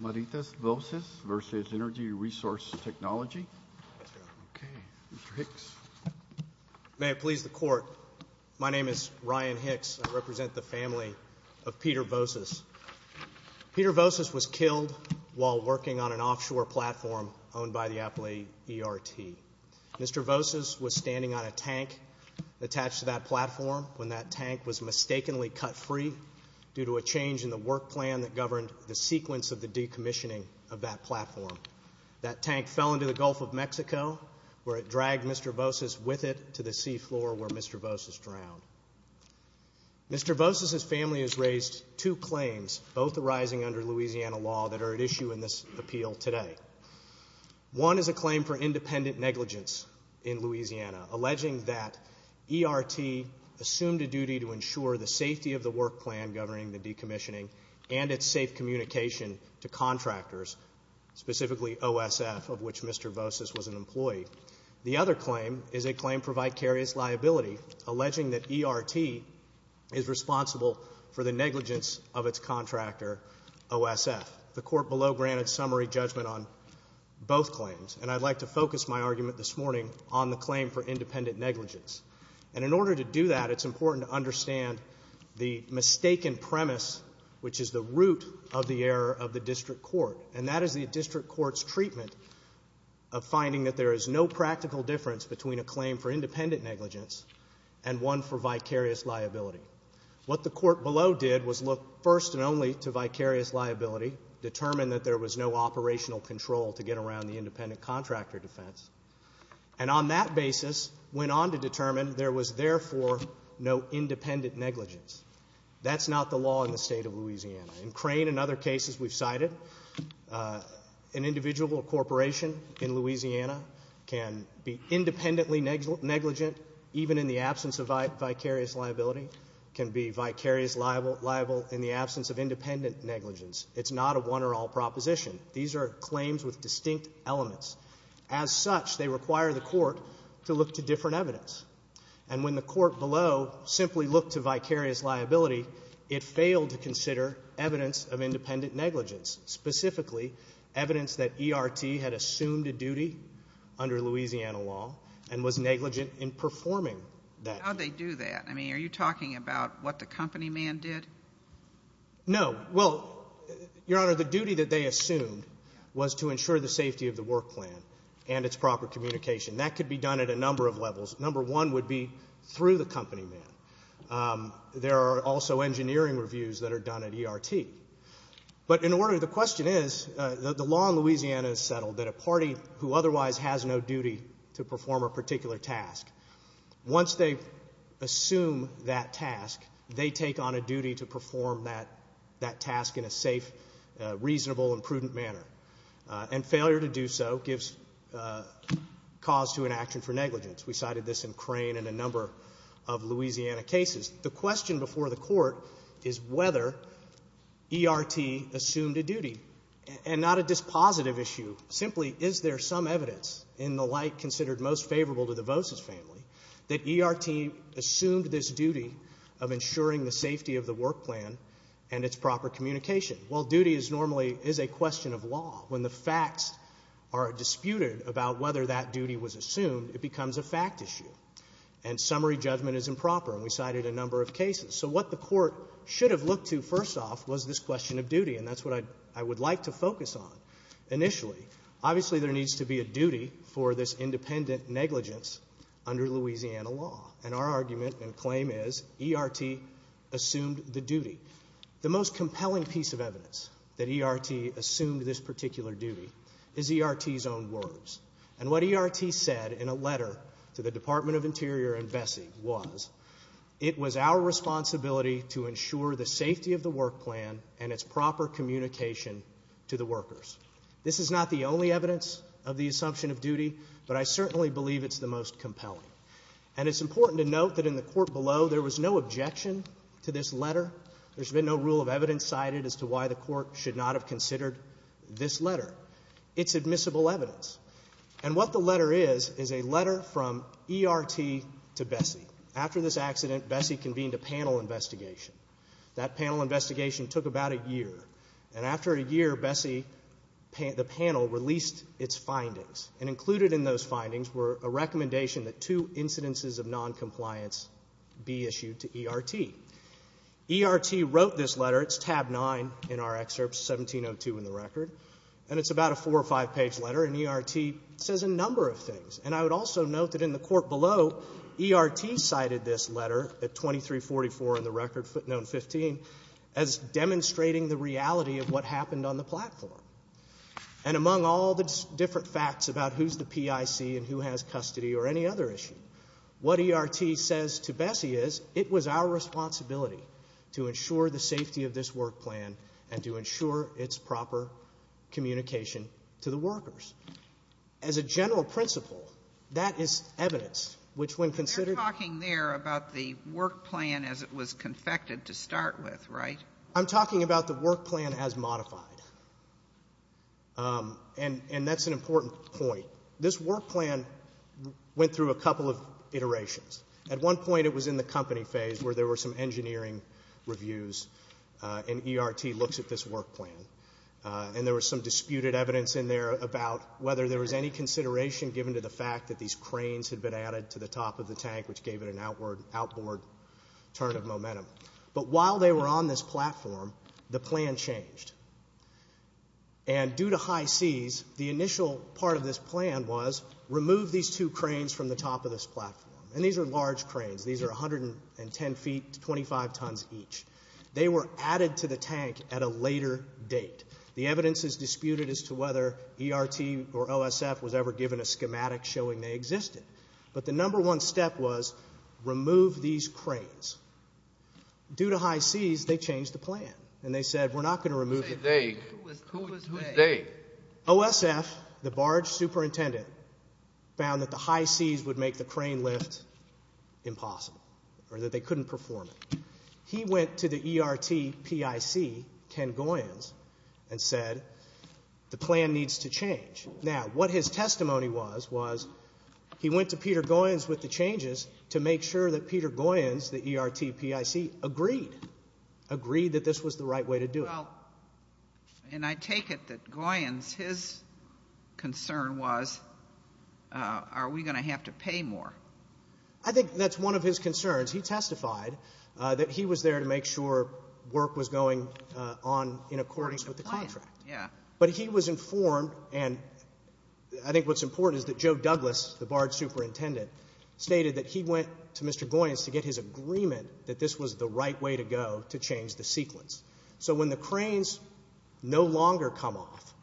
May I please the court? My name is Ryan Hicks. I represent the family of Peter Voces. Peter Voces was killed while working on an offshore platform owned by the Appalachia ERT. Mr. Voces was standing on a tank attached to that platform when that tank was mistakenly cut free due to a change in the work plan that governed the sequence of the decommissioning of that platform. That tank fell into the Gulf of Mexico where it dragged Mr. Voces with it to the seafloor where Mr. Voces drowned. Mr. Voces' family has raised two claims both arising under Louisiana law that are at issue in this appeal today. One is a claim for independent negligence in Louisiana alleging that ERT assumed a duty to ensure the safety of the work plan governing the decommissioning and its safe communication to contractors, specifically OSF of which Mr. Voces was an employee. The other claim is a claim for vicarious liability alleging that ERT is responsible for the negligence of its contractor OSF. The court below granted summary judgment on both claims and I'd like to focus my argument this morning on the claim for independent negligence. And in order to do that, it's important to understand the mistaken premise which is the root of the error of the district court and that is the district court's treatment of finding that there is no practical difference between a claim for independent negligence and one for vicarious liability. What the court below did was look first and only to vicarious liability, determine that there was no operational control to get around the independent contractor defense, and on that basis went on to determine there was therefore no independent negligence. That's not the law in the state of Louisiana. In Crane and other cases we've cited, an individual corporation in Louisiana can be independently negligent even in the absence of vicarious liability, can be vicarious liable in the absence of independent negligence. It's not a one or all proposition. These are claims with distinct elements. As such, they require the court to look to different evidence. And when the court below simply looked to vicarious liability, it failed to consider evidence of independent negligence, specifically evidence that ERT had assumed a duty under Louisiana law and was negligent in performing that duty. How'd they do that? I mean, are you talking about what the company man did? No. Well, Your Honor, the duty that they assumed was to ensure the safety of the work plan and its proper communication. That could be done at a number of levels. Number one would be through the company man. There are also engineering reviews that are done at ERT. But in order, the question is, the law in Louisiana is settled that a party who otherwise has no duty to perform a particular task, once they assume that task, they take on a duty to perform that task in a safe, reasonable, and prudent manner. And failure to do so gives cause to an action for negligence. We cited this in Crane and a number of Louisiana cases. The question before the court is whether ERT assumed a duty. And not a dispositive issue. Simply, is there some evidence in the light considered most favorable to the Vosa's family that ERT assumed this duty of ensuring the When the facts are disputed about whether that duty was assumed, it becomes a fact issue. And summary judgment is improper. And we cited a number of cases. So what the court should have looked to, first off, was this question of duty. And that's what I would like to focus on initially. Obviously, there needs to be a duty for this independent negligence under Louisiana law. And our argument and claim is ERT assumed the duty. The most compelling piece of evidence that ERT assumed this particular duty is ERT's own words. And what ERT said in a letter to the Department of Interior and Vesey was, it was our responsibility to ensure the safety of the work plan and its proper communication to the workers. This is not the only evidence of the assumption of duty, but I certainly believe it's the most compelling. And it's important to note that in the court below, there was no objection to this letter. There's been no rule of evidence cited as to why the court should not have considered this letter. It's admissible evidence. And what the letter is, is a letter from ERT to Vesey. After this accident, Vesey convened a panel investigation. That panel investigation took about a year. And after a year, Vesey, the panel, released its findings. And included in those findings were a recommendation that two incidences of noncompliance be issued to ERT. ERT wrote this letter. It's tab 9 in our excerpts, 1702 in the record. And it's about a four or five page letter. And ERT says a number of things. And I would also note that in the court below, ERT cited this letter at 2344 in the record, footnote 15, as demonstrating the reality of what happened on the platform. And among all the different facts about who's the PIC and who has custody or any other issue, what ERT says to Vesey is, it was our responsibility to ensure the safety of this work plan and to ensure its proper communication to the workers. As a general principle, that is evidence, which when considered. You're talking there about the work plan as it was confected to start with, right? I'm talking about the work plan as modified. And that's an important point. This work plan went through a couple of iterations. At one point it was in the company phase where there were some engineering reviews. And ERT looks at this work plan. And there was some disputed evidence in there about whether there was any consideration given to the fact that these cranes had been added to the top of the tank, which gave it an outward, outboard turn of momentum. But while they were on this platform, the plan changed. And due to high seas, the plan was, remove these two cranes from the top of this platform. And these are large cranes. These are 110 feet, 25 tons each. They were added to the tank at a later date. The evidence is disputed as to whether ERT or OSF was ever given a schematic showing they existed. But the number one step was, remove these cranes. Due to high seas, they changed the plan. And they said, we're not going to remove them. OSF, the barge superintendent, found that the high seas would make the crane lift impossible, or that they couldn't perform it. He went to the ERT PIC, Ken Goyens, and said, the plan needs to change. Now, what his testimony was, was he went to Peter Goyens with the changes to make sure that Peter Goyens, the ERT PIC, agreed. Agreed that this was the right way to do it. Well, and I take it that Goyens, his concern was, are we going to have to pay more? I think that's one of his concerns. He testified that he was there to make sure work was going on in accordance with the contract. Yeah. But he was informed, and I think what's important is that Joe Douglas, the barge superintendent, stated that he went to Mr. Goyens to get his agreement that this was the right way to go to change the sequence. So when the cranes no longer come off,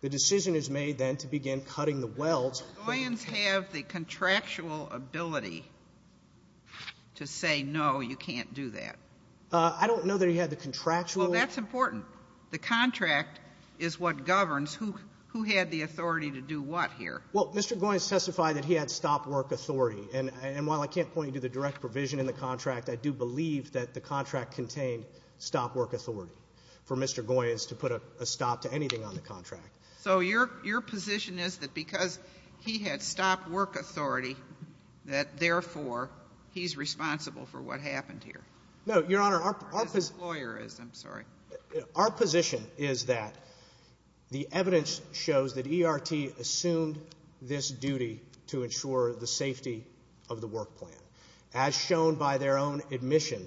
the decision is made then to begin cutting the welds. Do Goyens have the contractual ability to say, no, you can't do that? I don't know that he had the contractual... Well, that's important. The contract is what governs who had the authority to do what here. Well, Mr. Goyens testified that he had stop work authority, and while I can't point you to the direct provision in the contract, I do believe that the contract contained stop work authority for Mr. Goyens to put a stop to anything on the contract. So your position is that because he had stop work authority, that therefore, he's responsible for what happened here? No, Your Honor, our... As his lawyer is, I'm sorry. Our position is that the evidence shows that he has a duty to ensure the safety of the work plan, as shown by their own admission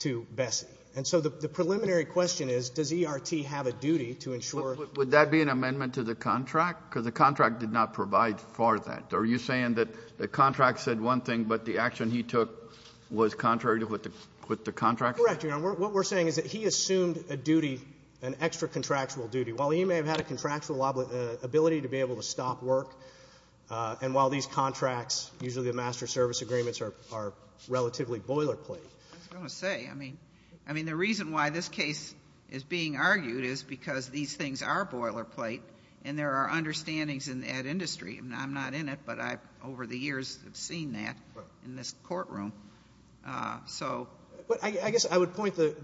to Bessie. And so the preliminary question is, does E.R.T. have a duty to ensure... Would that be an amendment to the contract? Because the contract did not provide for that. Are you saying that the contract said one thing, but the action he took was contrary to what the contract... Correct, Your Honor. What we're saying is that he assumed a duty, an extra contractual duty. While he may have had a contractual ability to be able to stop work, and while these contracts, usually the master service agreements, are relatively boilerplate. I was going to say, I mean, the reason why this case is being argued is because these things are boilerplate, and there are understandings at industry. I'm not in it, but I, over the years, have seen that in this courtroom. So... I guess I would point the cited,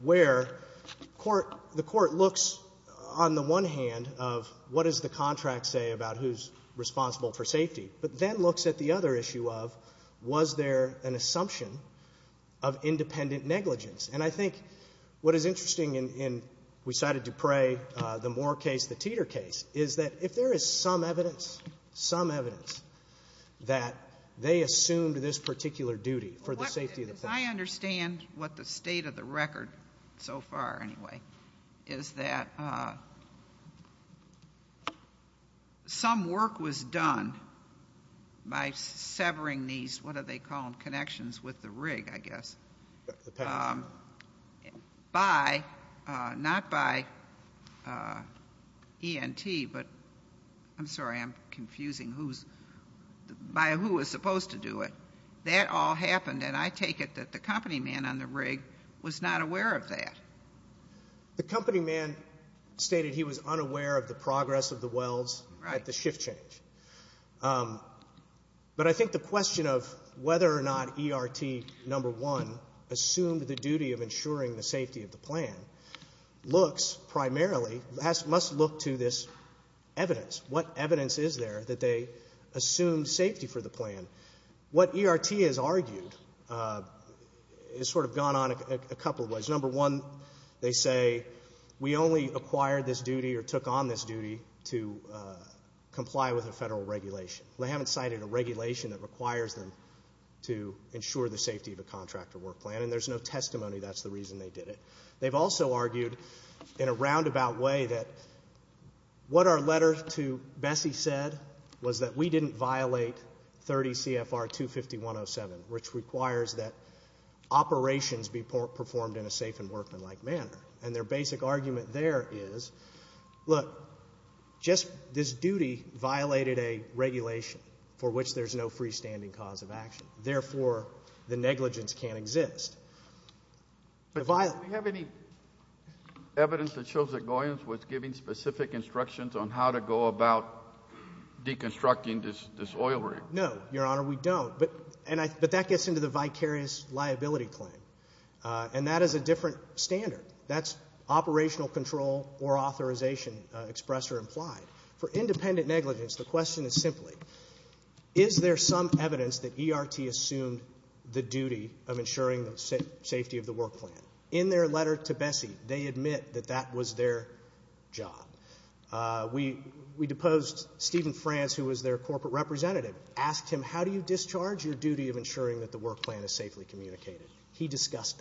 where the court looks, on the one hand, of what does the contract say about who's responsible for safety, but then looks at the other issue of, was there an assumption of independent negligence? And I think what is interesting in, we cited Dupre, the Moore case, the Teeter case, is that if there is some evidence, some evidence, that they assumed this particular duty for the safety of the patient. If I understand what the state of the record, so far, anyway, is that some work was done by severing these, what do they call them, connections with the rig, I guess, by, not by ENT, but, I'm sorry, I'm confusing who's, by who was supposed to do it. That all happened, and I take it that the company man on the rig was not aware of that. The company man stated he was unaware of the progress of the welds at the shift change. But I think the question of whether or not ERT, number one, assumed the duty of ensuring the safety of the plan, looks primarily, must look to this evidence. What evidence is there that they assumed safety for the plan? What ERT has argued has sort of gone on a couple of ways. Number one, they say, we only acquired this duty or took on this duty to comply with a federal regulation. They haven't cited a regulation that requires them to ensure the safety of a contractor work plan, and there's no testimony that's the reason they did it. They've also argued, in a roundabout way, that what our letter to Bessie said was that we didn't violate 30 CFR 250.107, which requires that operations be performed in a safe and workmanlike manner. And their basic argument there is, look, just this duty violated a regulation for which there's no freestanding cause of action. Therefore, the negligence can't exist. But do we have any evidence that shows that Goyans was giving specific instructions on how to go about deconstructing this oil rig? No, Your Honor, we don't. But that gets into the vicarious liability claim. And that is a different standard. That's operational control or authorization, express or implied. For independent negligence, the question is simply, is there some evidence that ERT assumed the safety of the work plan? In their letter to Bessie, they admit that that was their job. We deposed Stephen Franz, who was their corporate representative, asked him, how do you discharge your duty of ensuring that the work plan is safely communicated? He discussed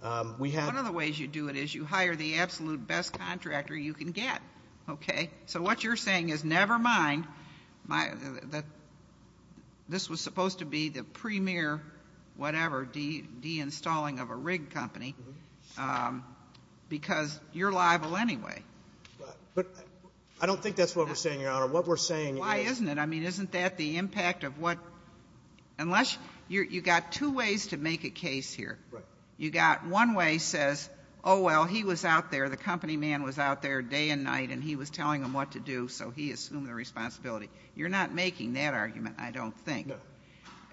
that. One of the ways you do it is you hire the absolute best contractor you can get, okay? So what you're saying is, never mind, this was supposed to be the premier, whatever, deinstalling of a rig company, because you're liable anyway. But I don't think that's what we're saying, Your Honor. What we're saying is why isn't it? I mean, isn't that the impact of what unless you got two ways to make a case here. Right. You got one way says, oh, well, he was out there, the company man was out there day and night, and he was telling them what to do, so he assumed the responsibility. You're not making that argument, I don't think. No.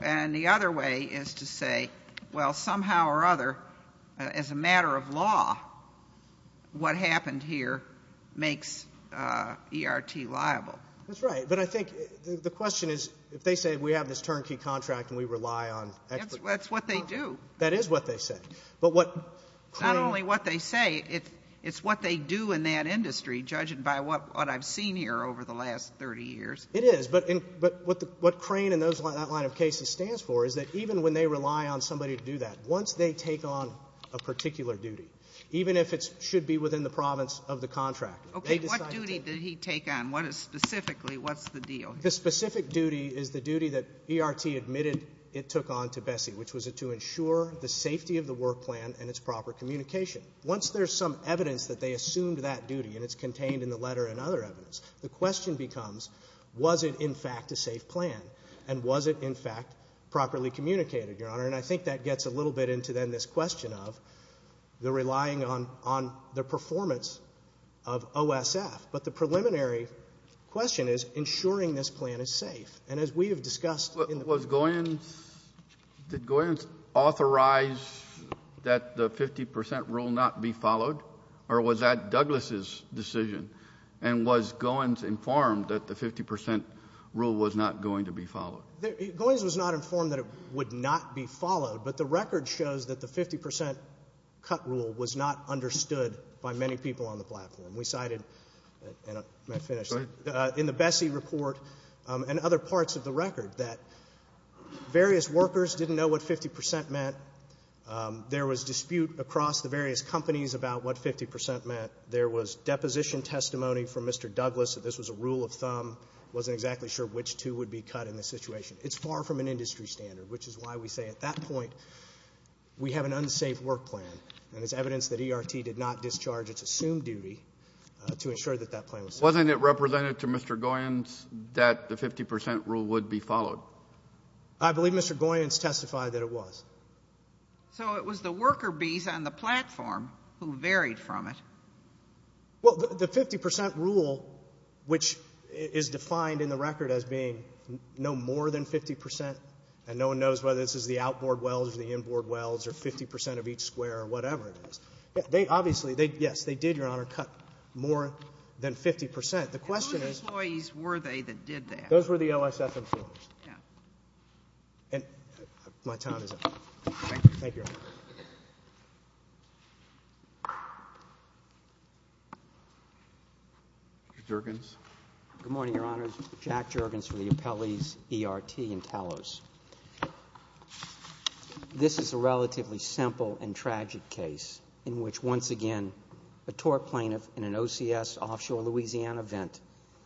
And the other way is to say, well, somehow or other, as a matter of law, what happened here makes ERT liable. That's right. But I think the question is, if they say we have this turnkey contract and we rely on experts. That's what they do. That is what they say. Not only what they say, it's what they do in that industry, judging by what I've seen here over the last 30 years. It is. But what Crane and that line of cases stands for is that even when they rely on somebody to do that, once they take on a particular duty, even if it should be within the province of the contractor. Okay. What duty did he take on? Specifically, what's the deal? The specific duty is the duty that ERT admitted it took on to Bessie, which was to ensure the safety of the work plan and its proper communication. Once there's some evidence that they assumed that duty, and it's contained in the document, was it in fact a safe plan? And was it in fact properly communicated, Your Honor? And I think that gets a little bit into then this question of the relying on the performance of OSF. But the preliminary question is ensuring this plan is safe. And as we have discussed in the Was Goins, did Goins authorize that the 50 percent rule not be followed? Or was that Douglas' decision? And was Goins informed that the 50 percent rule was not going to be followed? Goins was not informed that it would not be followed. But the record shows that the 50 percent cut rule was not understood by many people on the platform. We cited in the Bessie report and other parts of the record that various workers didn't know what 50 percent meant. There was dispute across the various companies about what 50 percent meant. There was deposition testimony from Mr. Douglas that this was a rule of thumb, wasn't exactly sure which two would be cut in this situation. It's far from an industry standard, which is why we say at that point we have an unsafe work plan. And there's evidence that ERT did not discharge its assumed duty to ensure that that plan was safe. Wasn't it represented to Mr. Goins that the 50 percent rule would be followed? I believe Mr. Goins testified that it was. So it was the worker bees on the platform who varied from it. Well, the 50 percent rule, which is defined in the record as being no more than 50 percent, and no one knows whether this is the outboard wells or the inboard wells or 50 percent of each square or whatever it is, they obviously, yes, they did, Your Honor, cut more than 50 percent. And whose employees were they that did that? Those were the OSF employees. My time is up. Thank you, Your Honor. Mr. Juergens. Good morning, Your Honors. Jack Juergens for the appellees ERT and TALOS. This is a relatively simple and tragic case in which, once again, a tort plaintiff in an OCS offshore Louisiana event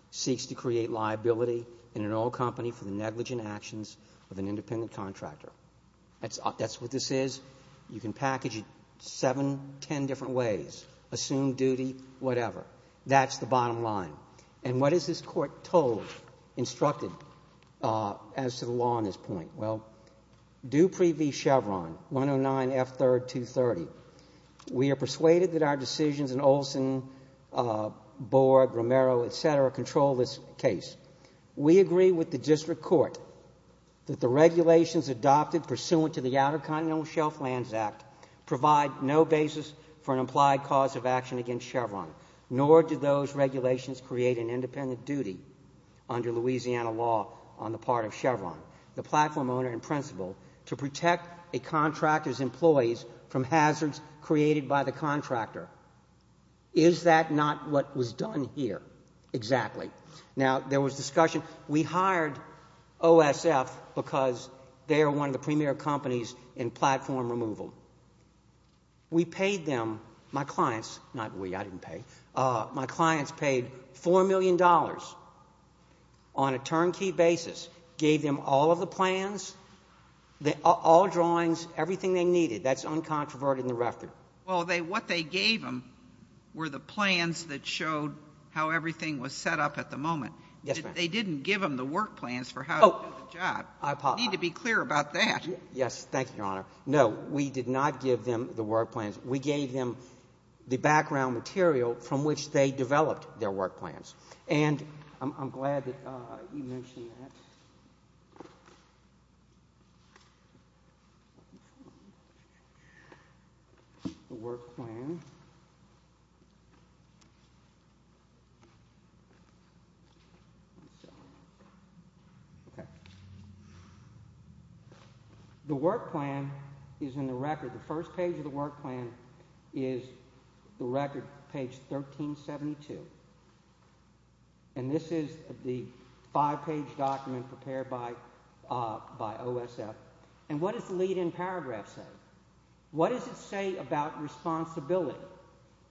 seeks to create liability in an oil company for the negligent actions of an independent contractor. That's what this is. You can package it seven, ten different ways. Assume duty, whatever. That's the bottom line. And what is this Court told, instructed, as to the law on this point? Well, Dupree v. Chevron, 109F3-230, we are persuaded that our decisions in Olson, Borg, Romero, et cetera, control this case. We agree with the district court that the regulations adopted pursuant to the Outer Continental Shelf Lands Act provide no basis for an implied cause of action against Chevron, nor do those regulations create an independent duty under Louisiana law on the part of Chevron, the platform owner in principle, to protect a contractor's employees from hazards created by the contractor. Is that not what was done here? Exactly. Now, there was discussion. We hired OSF because they are one of the premier companies in platform removal. We paid them, my clients, not we, I didn't pay, my clients paid $4 million on a turnkey basis, gave them all of the plans, all drawings, everything they needed. That's uncontroverted in the record. Well, what they gave them were the plans that showed how everything was set up at the moment. Yes, ma'am. They didn't give them the work plans for how to do the job. I apologize. You need to be clear about that. Yes. Thank you, Your Honor. No, we did not give them the work plans. We gave them the background material from which they developed their work plans. I'm glad that you mentioned that. The work plan. The work plan is in the record. The first page of the work plan is the record, page 1372. And this is the five-page document prepared by OSF. And what does the lead-in paragraph say? What does it say about responsibility?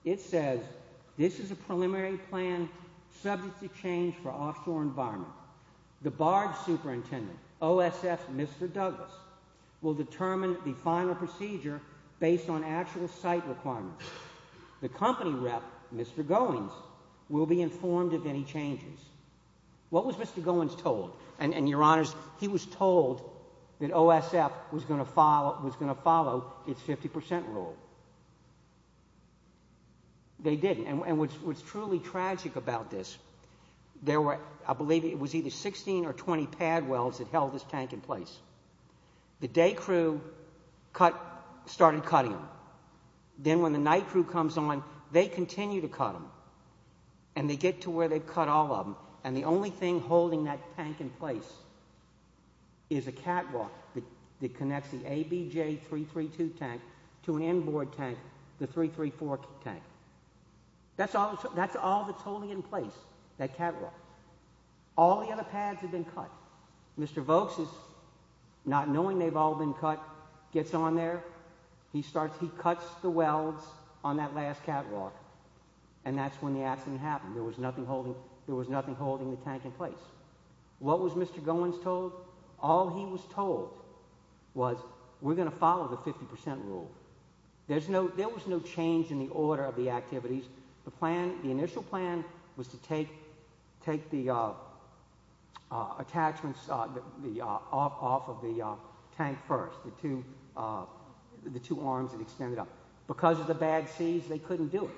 It says, this is a preliminary plan subject to change for offshore environment. The barge superintendent, OSF's Mr. Douglas, will determine the final procedure based on actual site requirements. The company rep, Mr. Goins, will be informed of any changes. What was Mr. Goins told? And, Your Honors, he was told that OSF was going to follow its 50% rule. They didn't. And what's truly tragic about this, there were, I believe it was either 16 or 20 pad wells that held this tank in place. The day crew started cutting them. Then when the night crew comes on, they continue to cut them. And they get to where they've cut all of them. And the only thing holding that tank in place is a catwalk that connects the ABJ332 tank to an inboard tank, the 334 tank. That's all that's holding in place, that catwalk. All the other pads have been cut. Mr. Vokes, not knowing they've all been cut, gets on there. He cuts the wells on that last catwalk. And that's when the accident happened. There was nothing holding the tank in place. What was Mr. Goins told? All he was told was we're going to follow the 50% rule. There was no change in the order of the activities. The initial plan was to take the attachments off of the tank first, the two arms that extended up. Because of the bad seas, they couldn't do it.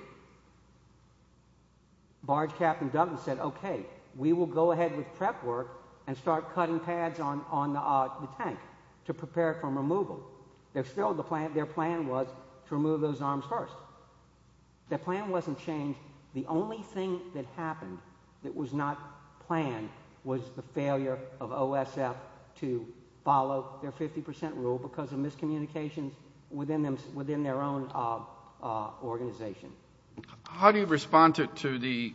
Barge Captain Duggan said, okay, we will go ahead with prep work and start cutting pads on the tank to prepare for removal. Their plan was to remove those arms first. Their plan wasn't changed. The only thing that happened that was not planned was the failure of OSF to follow their 50% rule because of miscommunications within their own organization. How do you respond to the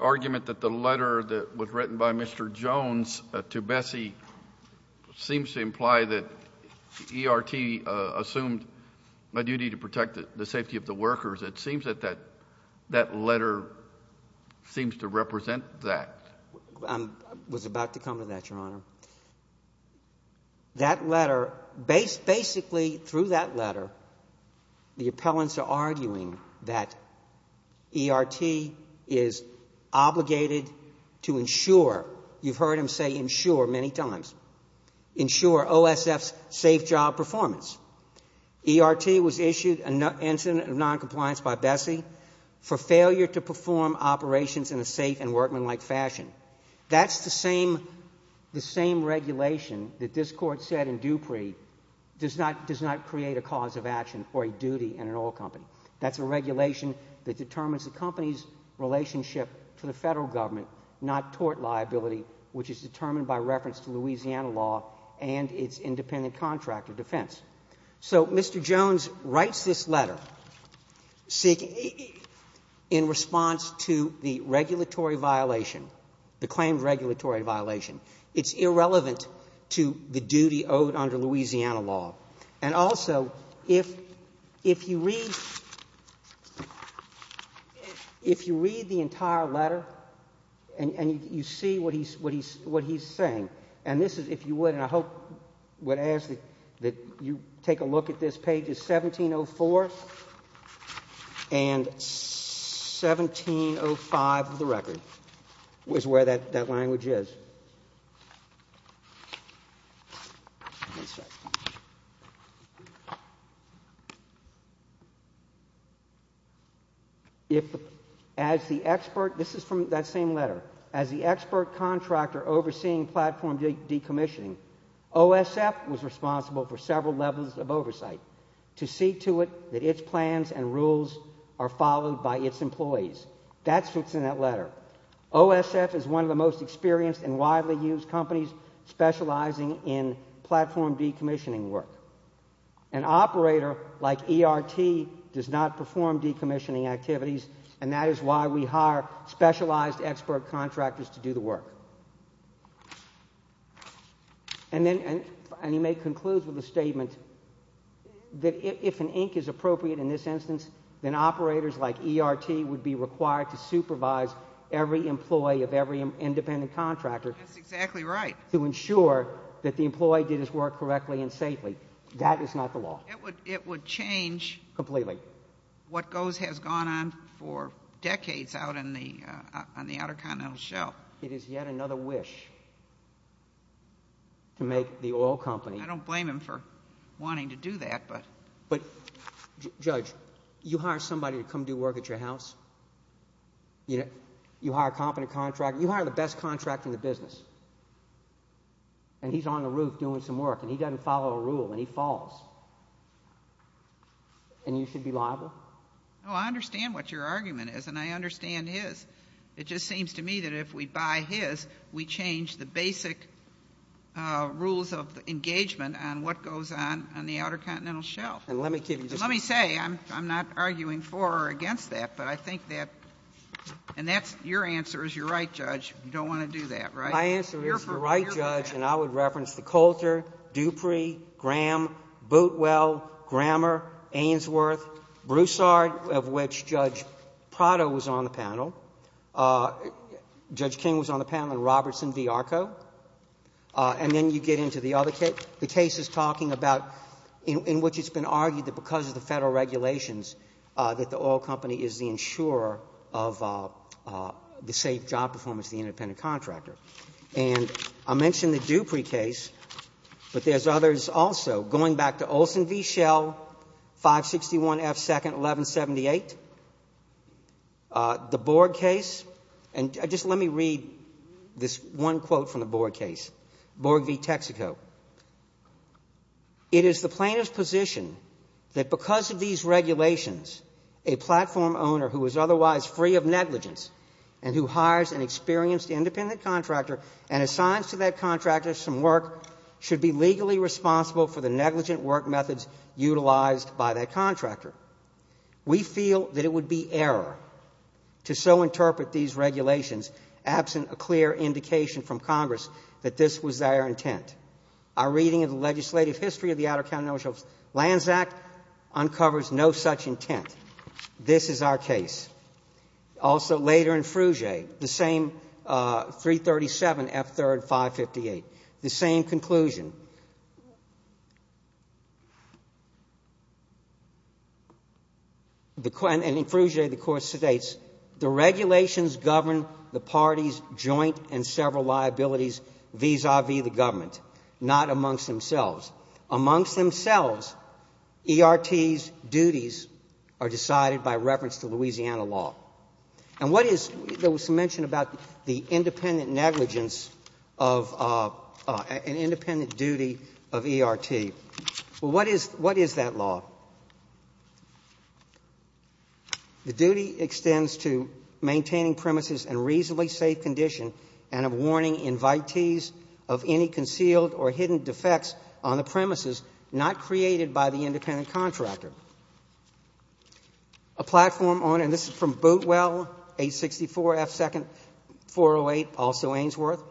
argument that the letter that was written by Mr. Jones to Bessie seems to imply that ERT assumed a duty to protect the safety of the workers? It seems that that letter seems to represent that. I was about to comment on that, Your Honor. That letter, basically through that letter, the appellants are arguing that ERT is obligated to ensure, you've heard him say ensure many times, ensure OSF's safe job performance. ERT was issued an incident of noncompliance by Bessie for failure to perform operations in a safe and workmanlike fashion. That's the same regulation that this Court said in Dupree does not create a cause of action or a duty in an oil company. That's a regulation that determines the company's relationship to the federal government, not tort liability, which is determined by reference to Louisiana law and its independent contractor defense. So Mr. Jones writes this letter in response to the regulatory violation, the claimed regulatory violation. It's irrelevant to the duty owed under Louisiana law. And also, if you read the entire letter and you see what he's saying, and this is, if you would, and I hope would ask that you take a look at this page, it's 1704 and 1705 of the record is where that language is. As the expert, this is from that same letter, as the expert contractor overseeing platform decommissioning, OSF was responsible for several levels of oversight to see to it that its plans and rules are followed by its employees. That's what's in that letter. OSF is one of the most experienced and widely used companies specializing in platform decommissioning work. An operator like ERT does not perform decommissioning activities, and that is why we hire specialized expert contractors to do the work. And he may conclude with a statement that if an ink is appropriate in this instance, then operators like ERT would be required to supervise every employee of every independent contractor. That's exactly right. To ensure that the employee did his work correctly and safely. That is not the law. It would change. Completely. What has gone on for decades out on the Outer Continental Shelf. It is yet another wish to make the oil company. I don't blame him for wanting to do that. But, Judge, you hire somebody to come do work at your house, you hire a competent contractor, you hire the best contractor in the business, and he's on the roof doing some work, and he doesn't follow a rule, and he falls. And you should be liable? I understand what your argument is, and I understand his. It just seems to me that if we buy his, we change the basic rules of engagement on what goes on on the Outer Continental Shelf. Let me say, I'm not arguing for or against that, but I think that, and your answer is you're right, Judge, you don't want to do that, right? My answer is you're right, Judge, and I would reference the Coulter, Dupree, Graham, Bootwell, Grammer, Ainsworth, Broussard, of which Judge Prado was on the panel. Judge King was on the panel, and Robertson v. Arco. And then you get into the other case. The case is talking about, in which it's been argued that because of the Federal regulations that the oil company is the insurer of the safe job performance and is the independent contractor. And I mentioned the Dupree case, but there's others also, going back to Olson v. Schell, 561 F. 2nd, 1178, the Borg case. And just let me read this one quote from the Borg case, Borg v. Texaco. It is the plaintiff's position that because of these regulations, a platform owner who is otherwise free of negligence and who hires an experienced independent contractor and assigns to that contractor some work should be legally responsible for the negligent work methods utilized by that contractor. We feel that it would be error to so interpret these regulations absent a clear indication from Congress that this was their intent. Our reading of the legislative history of the Outer County Ownership Lands Act uncovers no such intent. This is our case. Also later in Fruget, the same 337 F. 3rd, 558, the same conclusion. And in Fruget, the court states, the regulations govern the parties' joint and several liabilities vis-à-vis the government, not amongst themselves. Amongst themselves, ERT's duties are decided by reference to Louisiana law. And what is the mention about the independent negligence of an independent duty of ERT? Well, what is that law? The duty extends to maintaining premises in a reasonably safe condition and warning invitees of any concealed or hidden defects on the premises not created by the independent contractor. A platform owner, and this is from Bootwell, 864 F. 2nd, 408, also Ainsworth.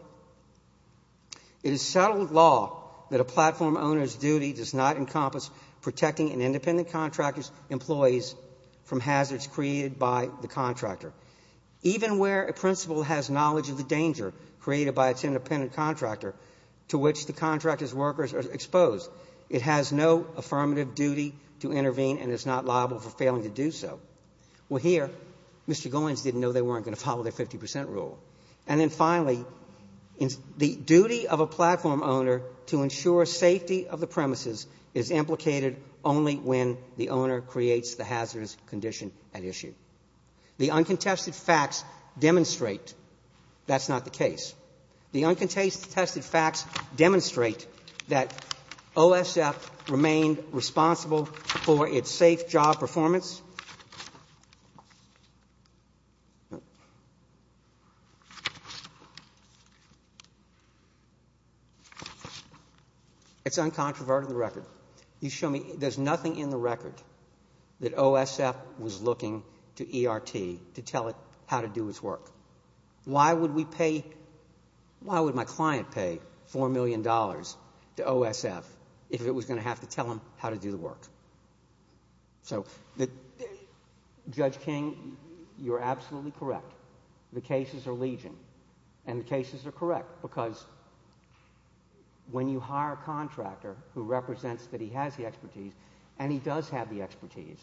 It is settled law that a platform owner's duty does not encompass protecting an independent contractor's employees from hazards created by the contractor. Even where a principal has knowledge of the danger created by its independent contractor to which the contractor's workers are exposed, it has no affirmative duty to intervene and is not liable for failing to do so. Well, here, Mr. Goins didn't know they weren't going to follow their 50 percent rule. And then finally, the duty of a platform owner to ensure safety of the premises The uncontested facts demonstrate that's not the case. The uncontested facts demonstrate that OSF remained responsible for its safe job performance. It's uncontroverted in the record. You show me, there's nothing in the record that OSF was looking to ERT to tell it how to do its work. Why would we pay, why would my client pay $4 million to OSF if it was going to have to tell them how to do the work? So, Judge King, you're absolutely correct. The cases are legion, and the cases are correct because when you hire a contractor, you make sure that he has the expertise, and he does have the expertise.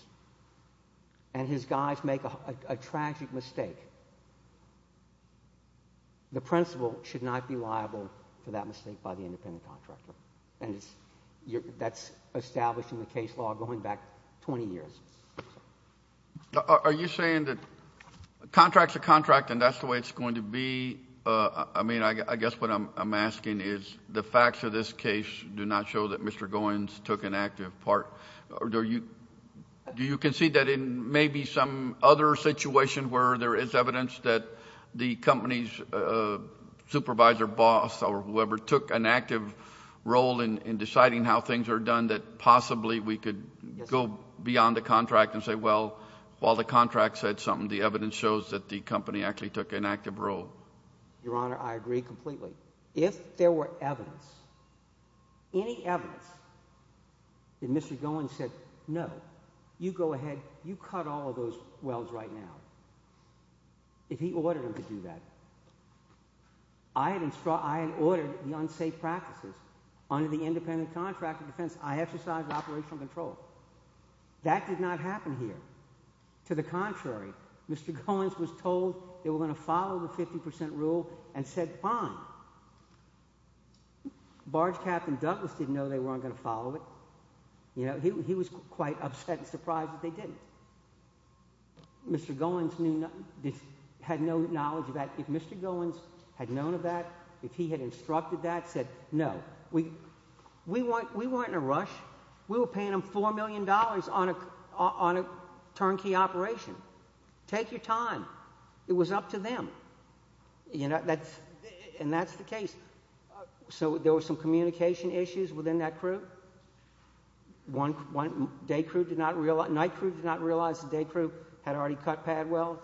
And his guys make a tragic mistake. The principal should not be liable for that mistake by the independent contractor. And that's established in the case law going back 20 years. Are you saying that a contract's a contract and that's the way it's going to be? I mean, I guess what I'm asking is the facts of this case do not show that Mr. Goins took an active part. Do you concede that in maybe some other situation where there is evidence that the company's supervisor boss or whoever took an active role in deciding how things are done that possibly we could go beyond the contract and say, well, while the contract said something, the evidence shows that the company actually took an active role? Your Honor, I agree completely. If there were evidence, any evidence that Mr. Goins said, no, you go ahead, you cut all of those wells right now. If he ordered him to do that, I had ordered the unsafe practices under the independent contractor defense. I exercised operational control. That did not happen here. To the contrary, Mr. Goins was told they were going to follow the 50% rule and said fine. Barge Captain Douglas didn't know they weren't going to follow it. He was quite upset and surprised that they didn't. Mr. Goins had no knowledge of that. If Mr. Goins had known of that, if he had instructed that, said no. We weren't in a rush. We were paying them $4 million on a turnkey operation. Take your time. It was up to them. And that's the case. So there were some communication issues within that crew. One night crew did not realize the day crew had already cut pad wells.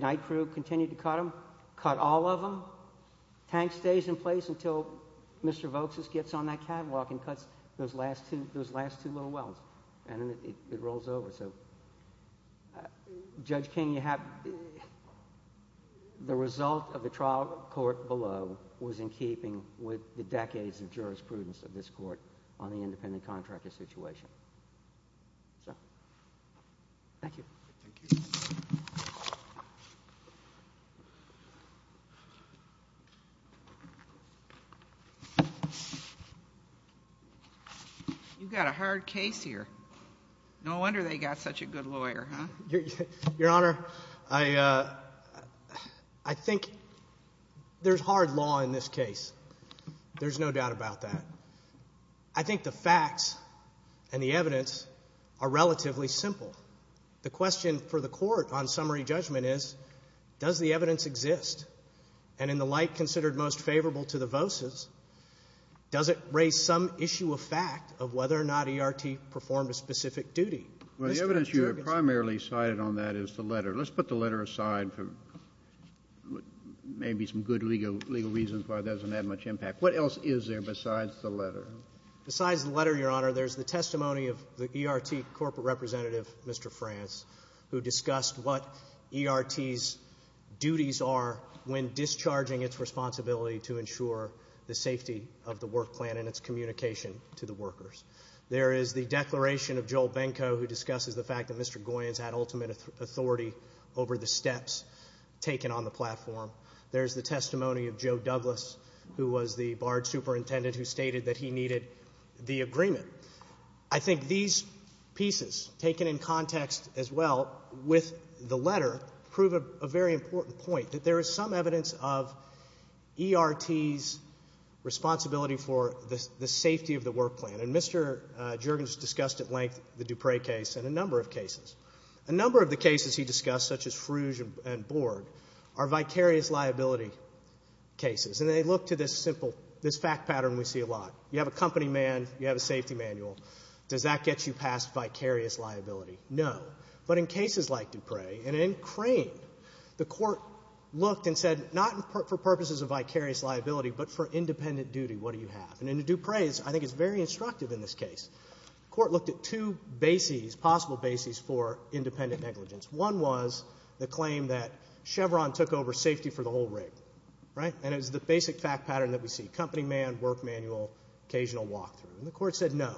Night crew continued to cut them, cut all of them. Tank stays in place until Mr. Voxus gets on that catwalk and cuts those last two little wells. And then it rolls over. So Judge King, the result of the trial court below was in keeping with the decades of jurisprudence of this court on the independent contractor situation. Thank you. Thank you. You've got a hard case here. No wonder they got such a good lawyer, huh? Your Honor, I think there's hard law in this case. There's no doubt about that. I think the facts and the evidence are relatively simple. The question for the court on summary judgment is, does the evidence exist? And in the light considered most favorable to the Voxus, does it raise some issue of fact of whether or not ERT performed a specific duty? Well, the evidence you have primarily cited on that is the letter. Let's put the letter aside for maybe some good legal reasons why it doesn't have much impact. What else is there besides the letter? Besides the letter, Your Honor, there's the testimony of the ERT corporate representative, Mr. Franz, who discussed what ERT's duties are when discharging its responsibility to ensure the safety of the work plan and its communication to the workers. There is the declaration of Joel Benko, who discusses the fact that Mr. Goyen's had ultimate authority over the steps taken on the platform. There's the testimony of Joe Douglas, who was the barge superintendent who stated that he needed the agreement. I think these pieces, taken in context as well with the letter, prove a very important point, that there is some evidence of ERT's responsibility for the safety of the work plan. And Mr. Juergens discussed at length the Dupre case and a number of cases. A number of the cases he discussed, such as Frugge and Borg, are vicarious liability cases. And they look to this simple fact pattern we see a lot. You have a company man. You have a safety manual. Does that get you past vicarious liability? But in cases like Dupre, and in Crane, the court looked and said, not for purposes of vicarious liability, but for independent duty, what do you have? And in the Dupre, I think it's very instructive in this case. The court looked at two bases, possible bases, for independent negligence. One was the claim that Chevron took over safety for the whole rig. And it was the basic fact pattern that we see. Company man, work manual, occasional walk-through. And the court said, no.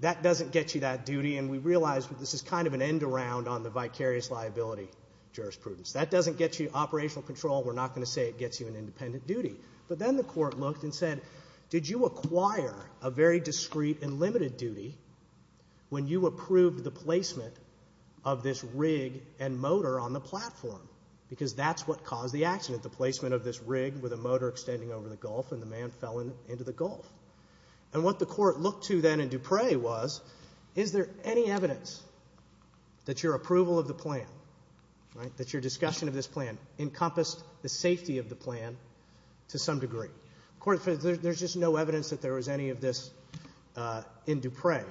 That doesn't get you that duty. And we realize this is kind of an end-around on the vicarious liability jurisprudence. That doesn't get you operational control. We're not going to say it gets you an independent duty. But then the court looked and said, did you acquire a very discreet and limited duty when you approved the placement of this rig and motor on the platform? Because that's what caused the accident, the placement of this rig with a motor extending over the gulf, and the man fell into the gulf. And what the court looked to then in Dupre was, is there any evidence that your approval of the plan, that your discussion of this plan, encompassed the safety of the plan to some degree? There's just no evidence that there was any of this in Dupre.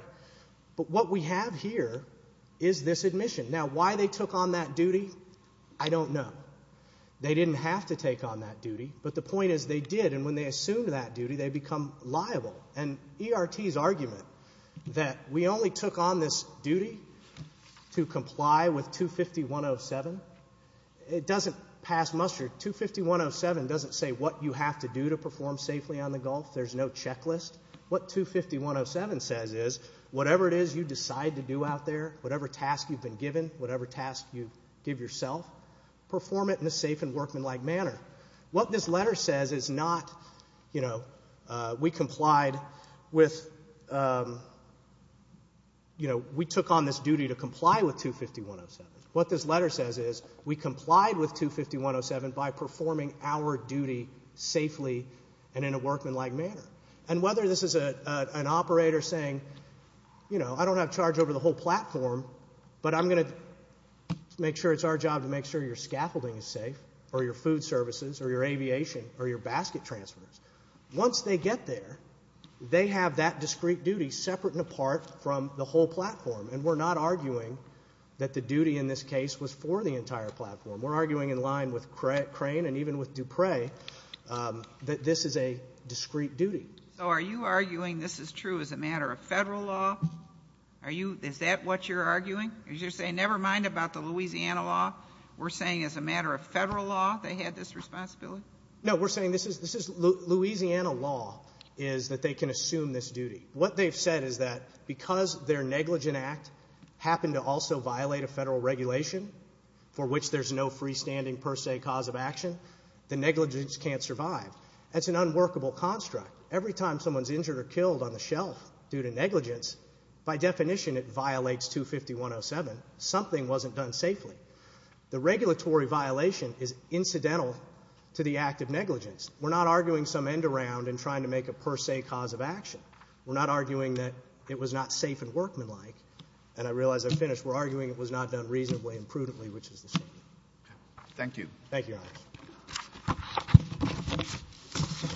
But what we have here is this admission. Now, why they took on that duty, I don't know. They didn't have to take on that duty. But the point is they did. And when they assumed that duty, they become liable. And ERT's argument that we only took on this duty to comply with 250.107, it doesn't pass muster. 250.107 doesn't say what you have to do to perform safely on the gulf. There's no checklist. What 250.107 says is whatever it is you decide to do out there, whatever task you've been given, whatever task you give yourself, perform it in a safe and workmanlike manner. What this letter says is not, you know, we complied with, you know, we took on this duty to comply with 250.107. What this letter says is we complied with 250.107 by performing our duty safely and in a workmanlike manner. And whether this is an operator saying, you know, I don't have charge over the whole platform, but I'm going to make sure it's our job to make sure your scaffolding is safe or your food services or your aviation or your basket transfers. Once they get there, they have that discrete duty separate and apart from the whole platform. And we're not arguing that the duty in this case was for the entire platform. We're arguing in line with Crane and even with Dupre that this is a discrete duty. So are you arguing this is true as a matter of federal law? Is that what you're arguing? Are you saying never mind about the Louisiana law? We're saying as a matter of federal law they had this responsibility? No, we're saying Louisiana law is that they can assume this duty. What they've said is that because their negligent act happened to also violate a federal regulation for which there's no freestanding per se cause of action, the negligence can't survive. That's an unworkable construct. Every time someone's injured or killed on the shelf due to negligence, by definition it violates 250.107. Something wasn't done safely. The regulatory violation is incidental to the act of negligence. We're not arguing some end around and trying to make a per se cause of action. We're not arguing that it was not safe and workmanlike. And I realize I'm finished. We're arguing it was not done reasonably and prudently, which is the same. Thank you. Thank you, Your Honor.